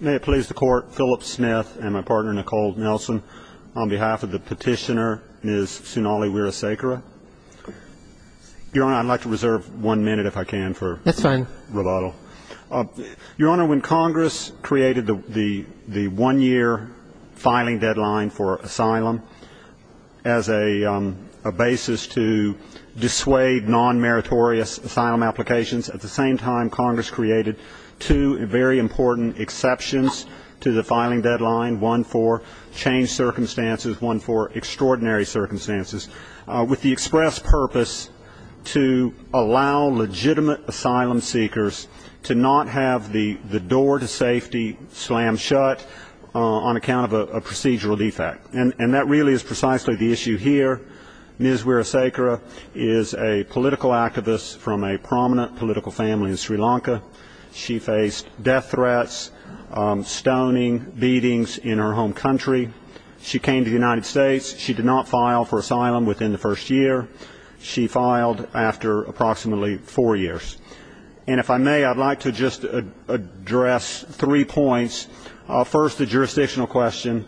May it please the Court, Philip Smith and my partner, Nicole Nelson, on behalf of the petitioner, Ms. Sunali Weerasekara. Your Honor, I'd like to reserve one minute, if I can, for rebuttal. That's fine. Your Honor, when Congress created the one-year filing deadline for asylum as a basis to dissuade non-meritorious asylum applications, at the same time Congress created two very important exceptions to the filing deadline, one for changed circumstances, one for extraordinary circumstances, with the express purpose to allow legitimate asylum seekers to not have the door to safety slammed shut on account of a procedural defect. And that really is precisely the issue here. Ms. Weerasekara is a political activist from a prominent political family in Sri Lanka. She faced death threats, stoning, beatings in her home country. She came to the United States. She did not file for asylum within the first year. She filed after approximately four years. And if I may, I'd like to just address three points. First, the jurisdictional question.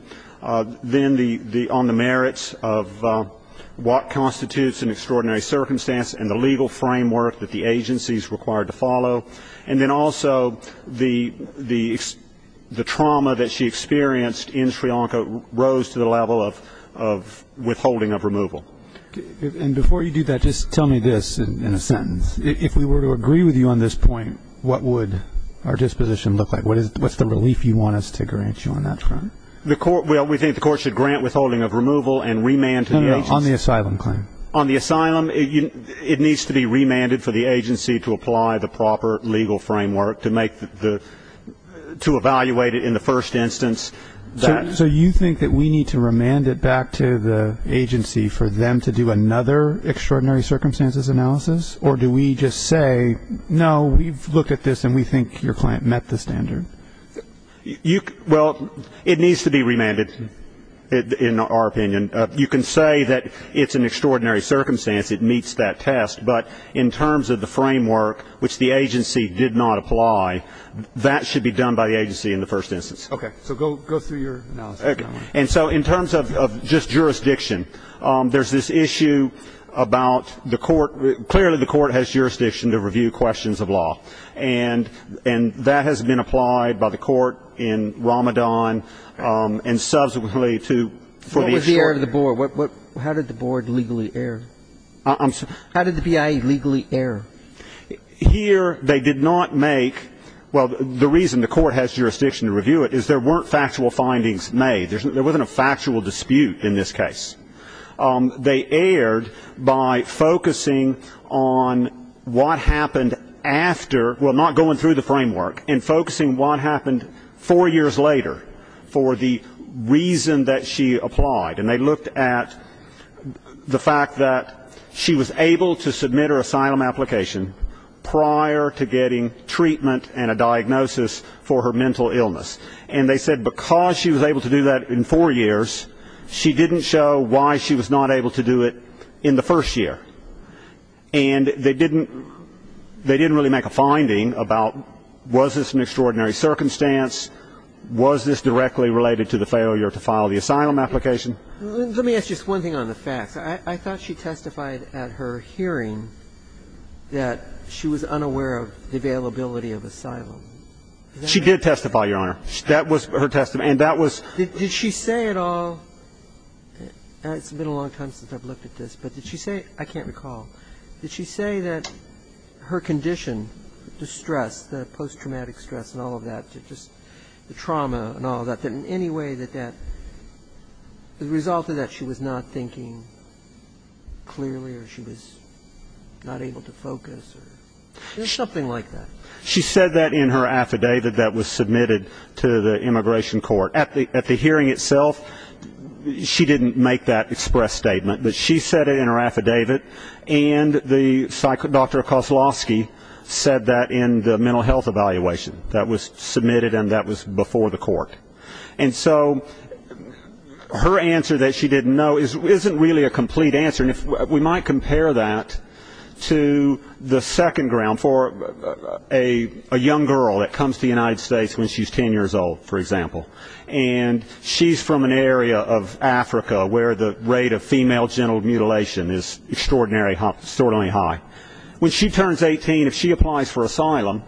Then on the merits of what constitutes an extraordinary circumstance and the legal framework that the agency is required to follow. And then also the trauma that she experienced in Sri Lanka rose to the level of withholding of removal. And before you do that, just tell me this in a sentence. If we were to agree with you on this point, what would our disposition look like? What's the relief you want us to grant you on that front? Well, we think the court should grant withholding of removal and remand to the agency. On the asylum claim. On the asylum, it needs to be remanded for the agency to apply the proper legal framework to evaluate it in the first instance. So you think that we need to remand it back to the agency for them to do another extraordinary circumstances analysis? Or do we just say, no, we've looked at this and we think your client met the standard? Well, it needs to be remanded, in our opinion. You can say that it's an extraordinary circumstance. It meets that test. But in terms of the framework, which the agency did not apply, that should be done by the agency in the first instance. Okay. So go through your analysis. And so in terms of just jurisdiction, there's this issue about the court. Clearly, the court has jurisdiction to review questions of law. And that has been applied by the court in Ramadan and subsequently to the agency. What was the error of the board? How did the board legally err? I'm sorry? How did the BIA legally err? Here, they did not make – well, the reason the court has jurisdiction to review it is there weren't factual findings made. There wasn't a factual dispute in this case. They erred by focusing on what happened after – well, not going through the framework, and focusing what happened four years later for the reason that she applied. And they looked at the fact that she was able to submit her asylum application prior to getting treatment and a diagnosis for her mental illness. And they said because she was able to do that in four years, she didn't show why she was not able to do it in the first year. And they didn't really make a finding about was this an extraordinary circumstance, was this directly related to the failure to file the asylum application. Let me ask just one thing on the facts. I thought she testified at her hearing that she was unaware of the availability of asylum. She did testify, Your Honor. That was her testimony. And that was – Did she say at all – it's been a long time since I've looked at this, but did she say – I can't recall. Did she say that her condition, the stress, the post-traumatic stress and all of that, just the trauma and all of that, that in any way that that – the result of that, she was not thinking clearly or she was not able to focus or something like that? She said that in her affidavit that was submitted to the immigration court. At the hearing itself, she didn't make that express statement. But she said it in her affidavit. And Dr. Koslowski said that in the mental health evaluation that was submitted and that was before the court. And so her answer that she didn't know isn't really a complete answer. And we might compare that to the second ground. For a young girl that comes to the United States when she's 10 years old, for example, and she's from an area of Africa where the rate of female genital mutilation is extraordinarily high. When she turns 18, if she applies for asylum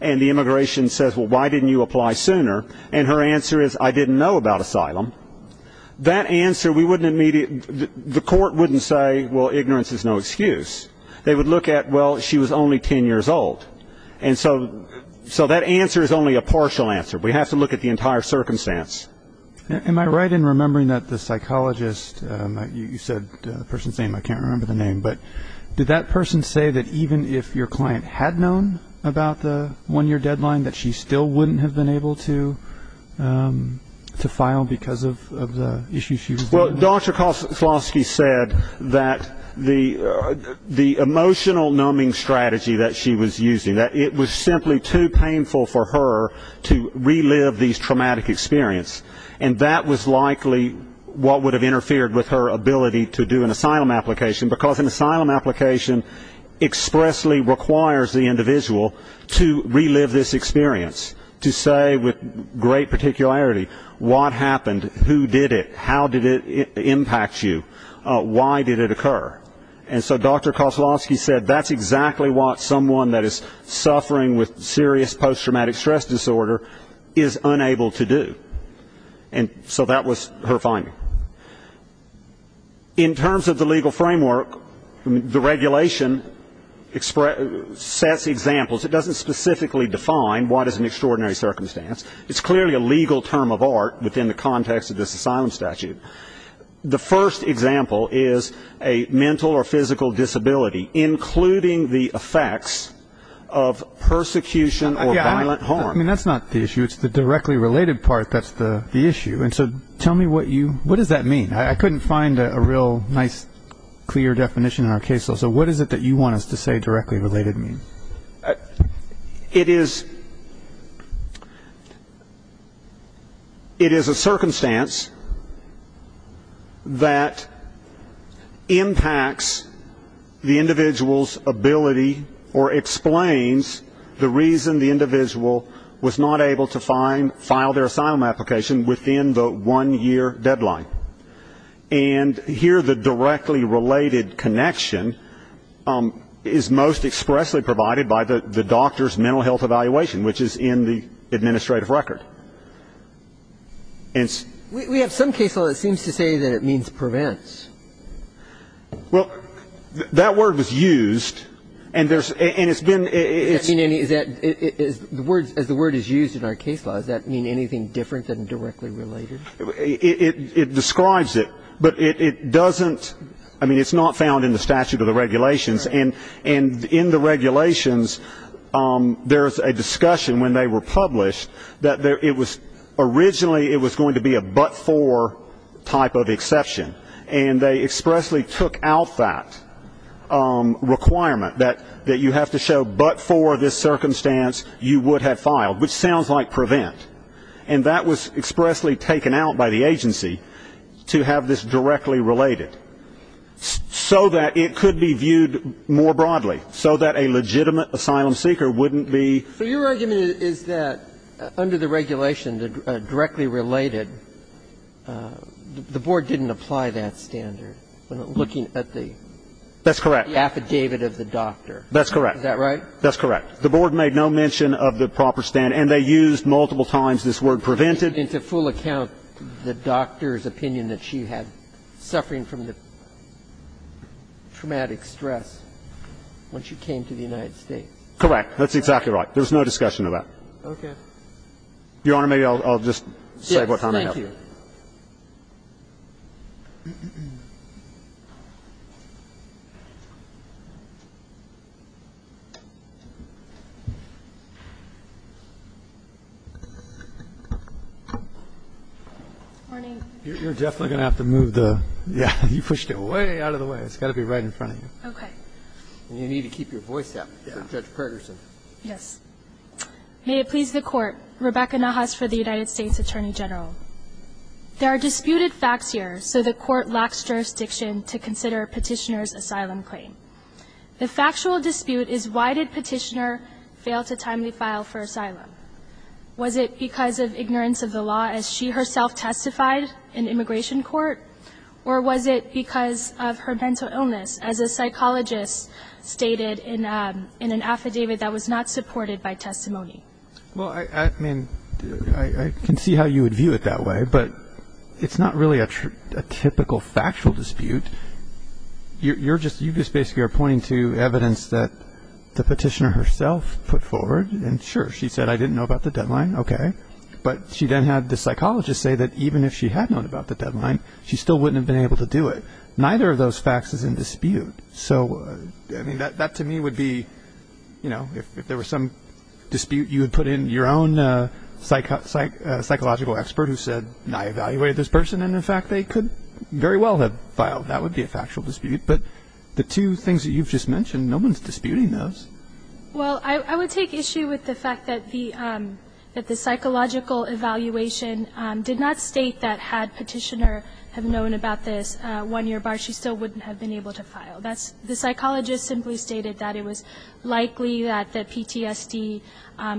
and the immigration says, well, why didn't you apply sooner, and her answer is, I didn't know about asylum, that answer we wouldn't immediately – the court wouldn't say, well, ignorance is no excuse. They would look at, well, she was only 10 years old. And so that answer is only a partial answer. We have to look at the entire circumstance. Am I right in remembering that the psychologist – you said the person's name. I can't remember the name. But did that person say that even if your client had known about the one-year deadline, that she still wouldn't have been able to file because of the issue she was dealing with? Well, Dr. Koslowski said that the emotional numbing strategy that she was using, that it was simply too painful for her to relive these traumatic experiences. And that was likely what would have interfered with her ability to do an asylum application, because an asylum application expressly requires the individual to relive this experience, to say with great particularity what happened, who did it, how did it impact you, why did it occur. And so Dr. Koslowski said that's exactly what someone that is suffering with serious post-traumatic stress disorder is unable to do. And so that was her finding. In terms of the legal framework, the regulation sets examples. It doesn't specifically define what is an extraordinary circumstance. It's clearly a legal term of art within the context of this asylum statute. The first example is a mental or physical disability, including the effects of persecution or violent harm. I mean, that's not the issue. It's the directly related part that's the issue. And so tell me what does that mean? I couldn't find a real nice, clear definition in our case law. So what is it that you want us to say directly related means? It is a circumstance that impacts the individual's ability or explains the reason the individual was not able to file their asylum application within the one-year deadline. And here the directly related connection is most expressly provided by the doctor's mental health evaluation, which is in the administrative record. We have some case law that seems to say that it means prevents. Well, that word was used. And it's been ‑‑ As the word is used in our case law, does that mean anything different than directly related? It describes it. But it doesn't ‑‑ I mean, it's not found in the statute or the regulations. And in the regulations, there is a discussion when they were published that originally it was going to be a but for type of exception. And they expressly took out that requirement that you have to show but for this circumstance you would have filed, which sounds like prevent. And that was expressly taken out by the agency to have this directly related so that it could be viewed more broadly, so that a legitimate asylum seeker wouldn't be ‑‑ So your argument is that under the regulation, the directly related, the board didn't apply that standard when looking at the ‑‑ That's correct. The affidavit of the doctor. That's correct. Is that right? That's correct. The board made no mention of the proper standard. And they used multiple times this word prevented. And to full account, the doctor's opinion that she had suffering from the traumatic stress when she came to the United States. Correct. That's exactly right. There was no discussion of that. Okay. Your Honor, maybe I'll just say what time I have. Yes, thank you. Morning. You're definitely going to have to move the ‑‑ yeah, you pushed it way out of the way. It's got to be right in front of you. Okay. And you need to keep your voice up for Judge Pergerson. Yes. May it please the Court, Rebecca Nahas for the United States Attorney General. There are disputed facts here, so the Court lacks jurisdiction to consider Petitioner's asylum claim. The factual dispute is why did Petitioner fail to timely file for asylum? Was it because of ignorance of the law as she herself testified in immigration court, or was it because of her mental illness as a psychologist stated in an affidavit that was not supported by testimony? Well, I mean, I can see how you would view it that way, but it's not really a typical factual dispute. You're just ‑‑ you just basically are pointing to evidence that the Petitioner herself put forward. And sure, she said, I didn't know about the deadline. Okay. But she then had the psychologist say that even if she had known about the deadline, she still wouldn't have been able to do it. Neither of those facts is in dispute. So, I mean, that to me would be, you know, if there were some dispute, you would put in your own psychological expert who said, I evaluated this person, and in fact, they could very well have filed. That would be a factual dispute. But the two things that you've just mentioned, no one's disputing those. Well, I would take issue with the fact that the psychological evaluation did not state that had Petitioner known about this one‑year bar, she still wouldn't have been able to file. The psychologist simply stated that it was likely that PTSD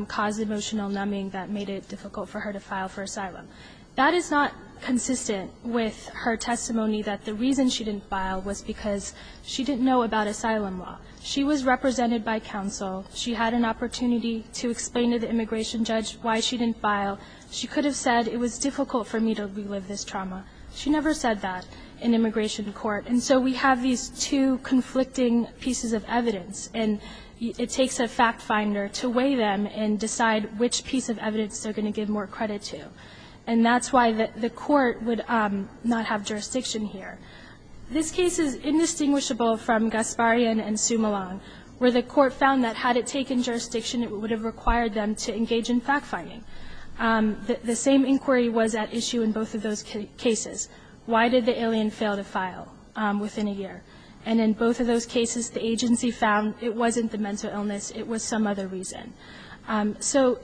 caused emotional numbing that made it difficult for her to file for asylum. That is not consistent with her testimony that the reason she didn't file was because she didn't know about asylum law. She was represented by counsel. She had an opportunity to explain to the immigration judge why she didn't file. She could have said, it was difficult for me to relive this trauma. She never said that in immigration court. And so we have these two conflicting pieces of evidence, and it takes a fact finder to weigh them and decide which piece of evidence they're going to give more credit to. And that's why the court would not have jurisdiction here. This case is indistinguishable from Gasparian and Sumolong, where the court found that had it taken jurisdiction, it would have required them to engage in fact finding. The same inquiry was at issue in both of those cases. Why did the alien fail to file within a year? And in both of those cases, the agency found it wasn't the mental illness. It was some other reason. So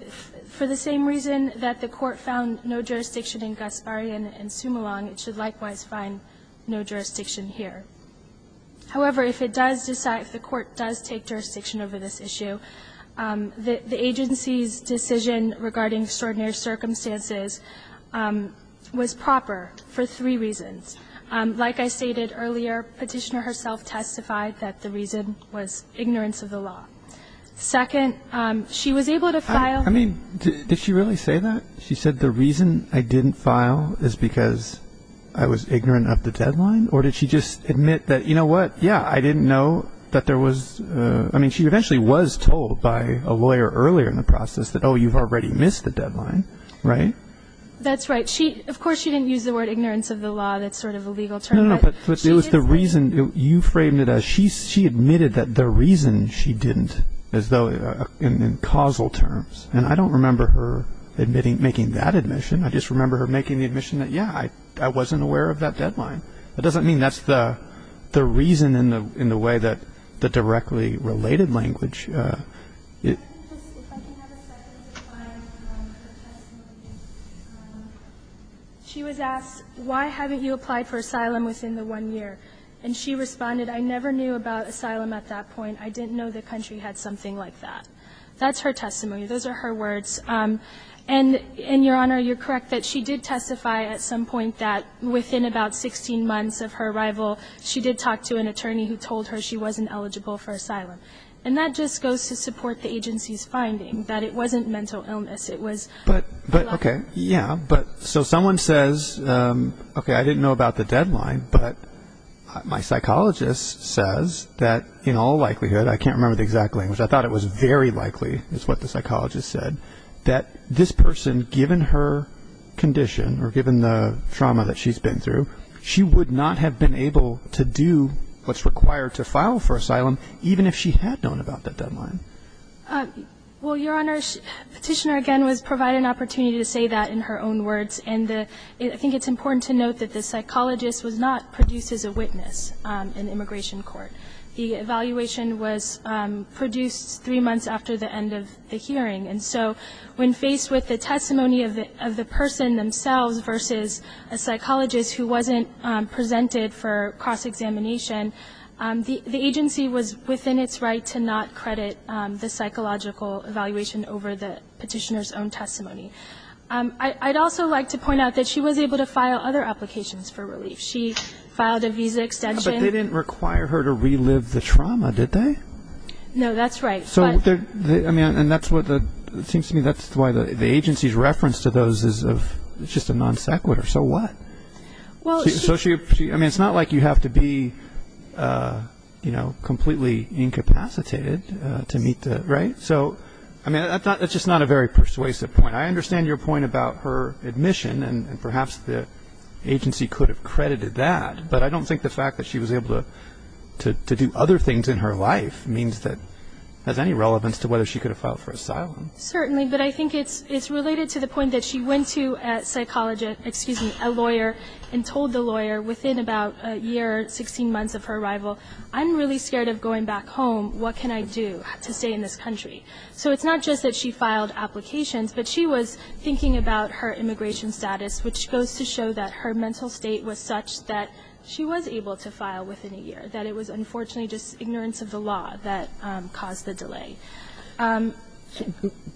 for the same reason that the court found no jurisdiction in Gasparian and Sumolong, it should likewise find no jurisdiction here. However, if it does decide, if the court does take jurisdiction over this issue, the agency's decision regarding extraordinary circumstances was proper for three reasons. Like I stated earlier, Petitioner herself testified that the reason was ignorance of the law. Second, she was able to file. I mean, did she really say that? She said the reason I didn't file is because I was ignorant of the deadline? Or did she just admit that, you know what, yeah, I didn't know that there was, I mean, she eventually was told by a lawyer earlier in the process that, oh, you've already missed the deadline, right? That's right. Of course she didn't use the word ignorance of the law. That's sort of a legal term. No, no, but it was the reason you framed it as she admitted that the reason she didn't, as though in causal terms. And I don't remember her admitting, making that admission. I just remember her making the admission that, yeah, I wasn't aware of that deadline. That doesn't mean that's the reason in the way that the directly related language is. If I can have a second to find her testimony. She was asked, why haven't you applied for asylum within the one year? And she responded, I never knew about asylum at that point. I didn't know the country had something like that. That's her testimony. Those are her words. And, Your Honor, you're correct that she did testify at some point that within about 16 months of her arrival, she did talk to an attorney who told her she wasn't eligible for asylum. And that just goes to support the agency's finding that it wasn't mental illness. It was. But, okay, yeah. So someone says, okay, I didn't know about the deadline, but my psychologist says that in all likelihood, I can't remember the exact language, I thought it was very likely is what the psychologist said, that this person, given her condition or given the trauma that she's been through, she would not have been able to do what's required to file for asylum, even if she had known about that deadline. Well, Your Honor, Petitioner, again, was provided an opportunity to say that in her own words. And I think it's important to note that the psychologist was not produced as a witness in immigration court. The evaluation was produced three months after the end of the hearing. And so when faced with the testimony of the person themselves versus a psychologist who wasn't presented for cross-examination, the agency was within its right to not credit the psychological evaluation over the Petitioner's own testimony. I'd also like to point out that she was able to file other applications for relief. She filed a visa extension. Yeah, but they didn't require her to relive the trauma, did they? No, that's right. And it seems to me that's why the agency's reference to those is just a non sequitur. So what? I mean, it's not like you have to be, you know, completely incapacitated to meet the, right? So, I mean, that's just not a very persuasive point. I understand your point about her admission, and perhaps the agency could have credited that, but I don't think the fact that she was able to do other things in her life means that it has any relevance to whether she could have filed for asylum. Certainly, but I think it's related to the point that she went to a psychologist, excuse me, a lawyer, and told the lawyer within about a year, 16 months of her arrival, I'm really scared of going back home. What can I do to stay in this country? So it's not just that she filed applications, but she was thinking about her immigration status, which goes to show that her mental state was such that she was able to file within a year, that it was unfortunately just ignorance of the law that caused the delay.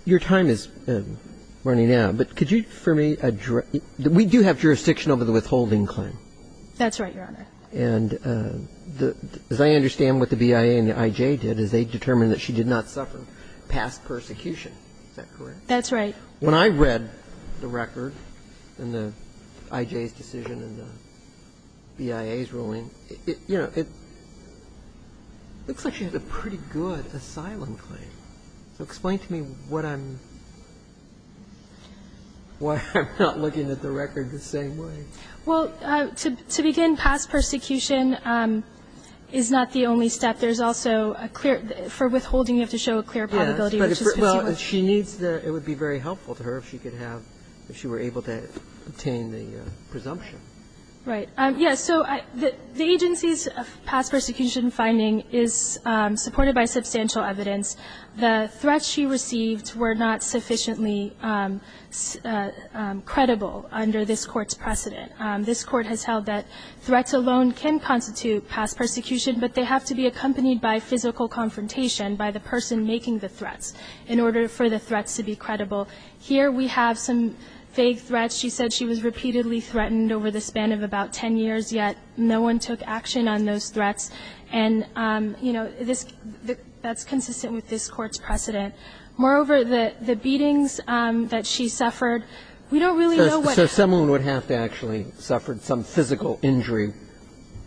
Your time is running out, but could you, for me, we do have jurisdiction over the withholding claim. That's right, Your Honor. And as I understand what the BIA and the I.J. did is they determined that she did not suffer past persecution. Is that correct? That's right. When I read the record and the I.J.'s decision and the BIA's ruling, you know, it looks like she had a pretty good asylum claim. So explain to me what I'm, why I'm not looking at the record the same way. Well, to begin, past persecution is not the only step. There's also a clear, for withholding you have to show a clear probability, which is what you want. But she needs the, it would be very helpful to her if she could have, if she were able to obtain the presumption. Right. Yes. So the agency's past persecution finding is supported by substantial evidence. The threats she received were not sufficiently credible under this Court's precedent. This Court has held that threats alone can constitute past persecution, but they have to be accompanied by physical confrontation by the person making the threats in order for the threats to be credible. Here we have some vague threats. She said she was repeatedly threatened over the span of about 10 years, yet no one took action on those threats. And, you know, this, that's consistent with this Court's precedent. Moreover, the, the beatings that she suffered, we don't really know what. So someone would have to actually have suffered some physical injury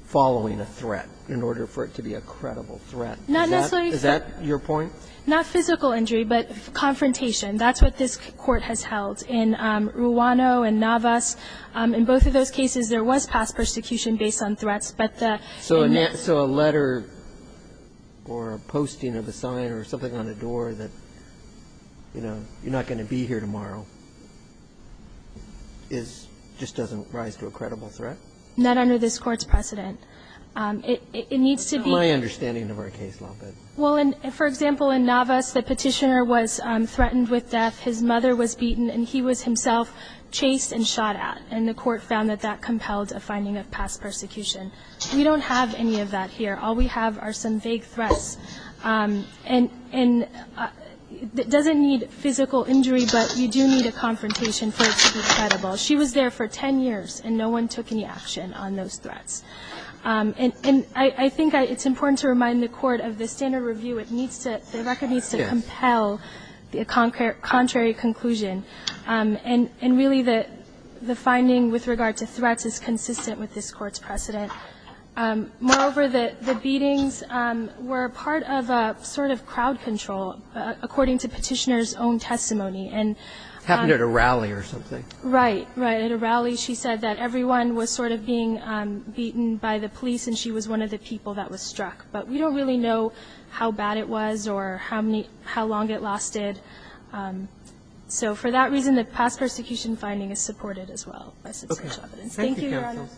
following a threat in order for it to be a credible threat. Not necessarily. Is that your point? Not physical injury, but confrontation. That's what this Court has held. In Ruano and Navas, in both of those cases, there was past persecution based on threats, but the net. So a letter or a posting of a sign or something on a door that, you know, you're not going to be here tomorrow is, just doesn't rise to a credible threat? Not under this Court's precedent. It needs to be. My understanding of our case a little bit. Well, for example, in Navas, the petitioner was threatened with death. His mother was beaten, and he was himself chased and shot at. And the Court found that that compelled a finding of past persecution. We don't have any of that here. All we have are some vague threats. And it doesn't need physical injury, but you do need a confrontation for it to be credible. She was there for 10 years, and no one took any action on those threats. And I think it's important to remind the Court of the standard review. It needs to, the record needs to compel the contrary conclusion. And really the finding with regard to threats is consistent with this Court's precedent. Moreover, the beatings were part of a sort of crowd control, according to petitioner's own testimony. Right. Right. And really the finding with regard to threats is consistent with this Court's precedent. She was beaten by the police, and she was one of the people that was struck. But we don't really know how bad it was or how many, how long it lasted. So for that reason, the past persecution finding is supported as well by substantial evidence. Thank you, Your Honor. Anybody else?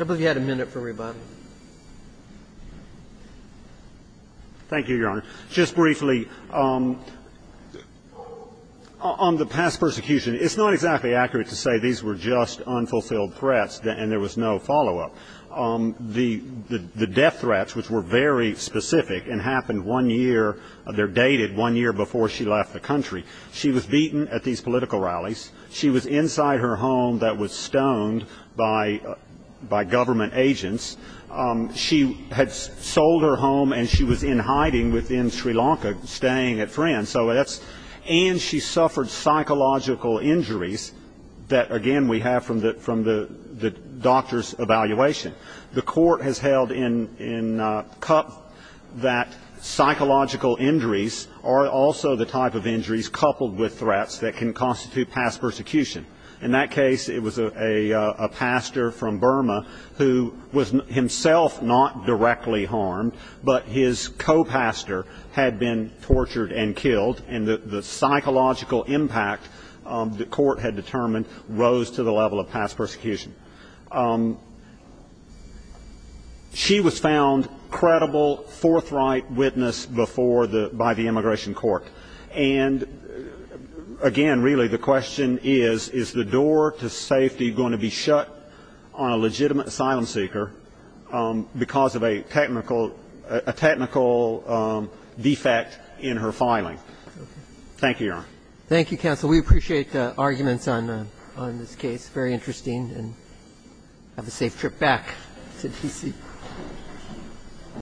I believe you had a minute for rebuttal. Thank you, Your Honor. Just briefly, on the past persecution, it's not exactly accurate to say these were just unfulfilled threats and there was no follow-up. The death threats, which were very specific and happened one year, they're dated one year before she left the country. She was beaten at these political rallies. She was inside her home that was stoned by government agents. She had sold her home, and she was in hiding within Sri Lanka, staying at friends. And she suffered psychological injuries that, again, we have from the doctor's evaluation. The Court has held in cup that psychological injuries are also the type of injuries coupled with threats that can constitute past persecution. In that case, it was a pastor from Burma who was himself not directly harmed, but his co-pastor had been tortured and killed. And the psychological impact the Court had determined rose to the level of past persecution. She was found credible, forthright witness before the by the immigration court. And, again, really the question is, is the door to safety going to be shut on a legitimate asylum seeker because of a technical defect in her filing? Thank you, Your Honor. Thank you, counsel. We appreciate the arguments on this case. Very interesting. And have a safe trip back to D.C.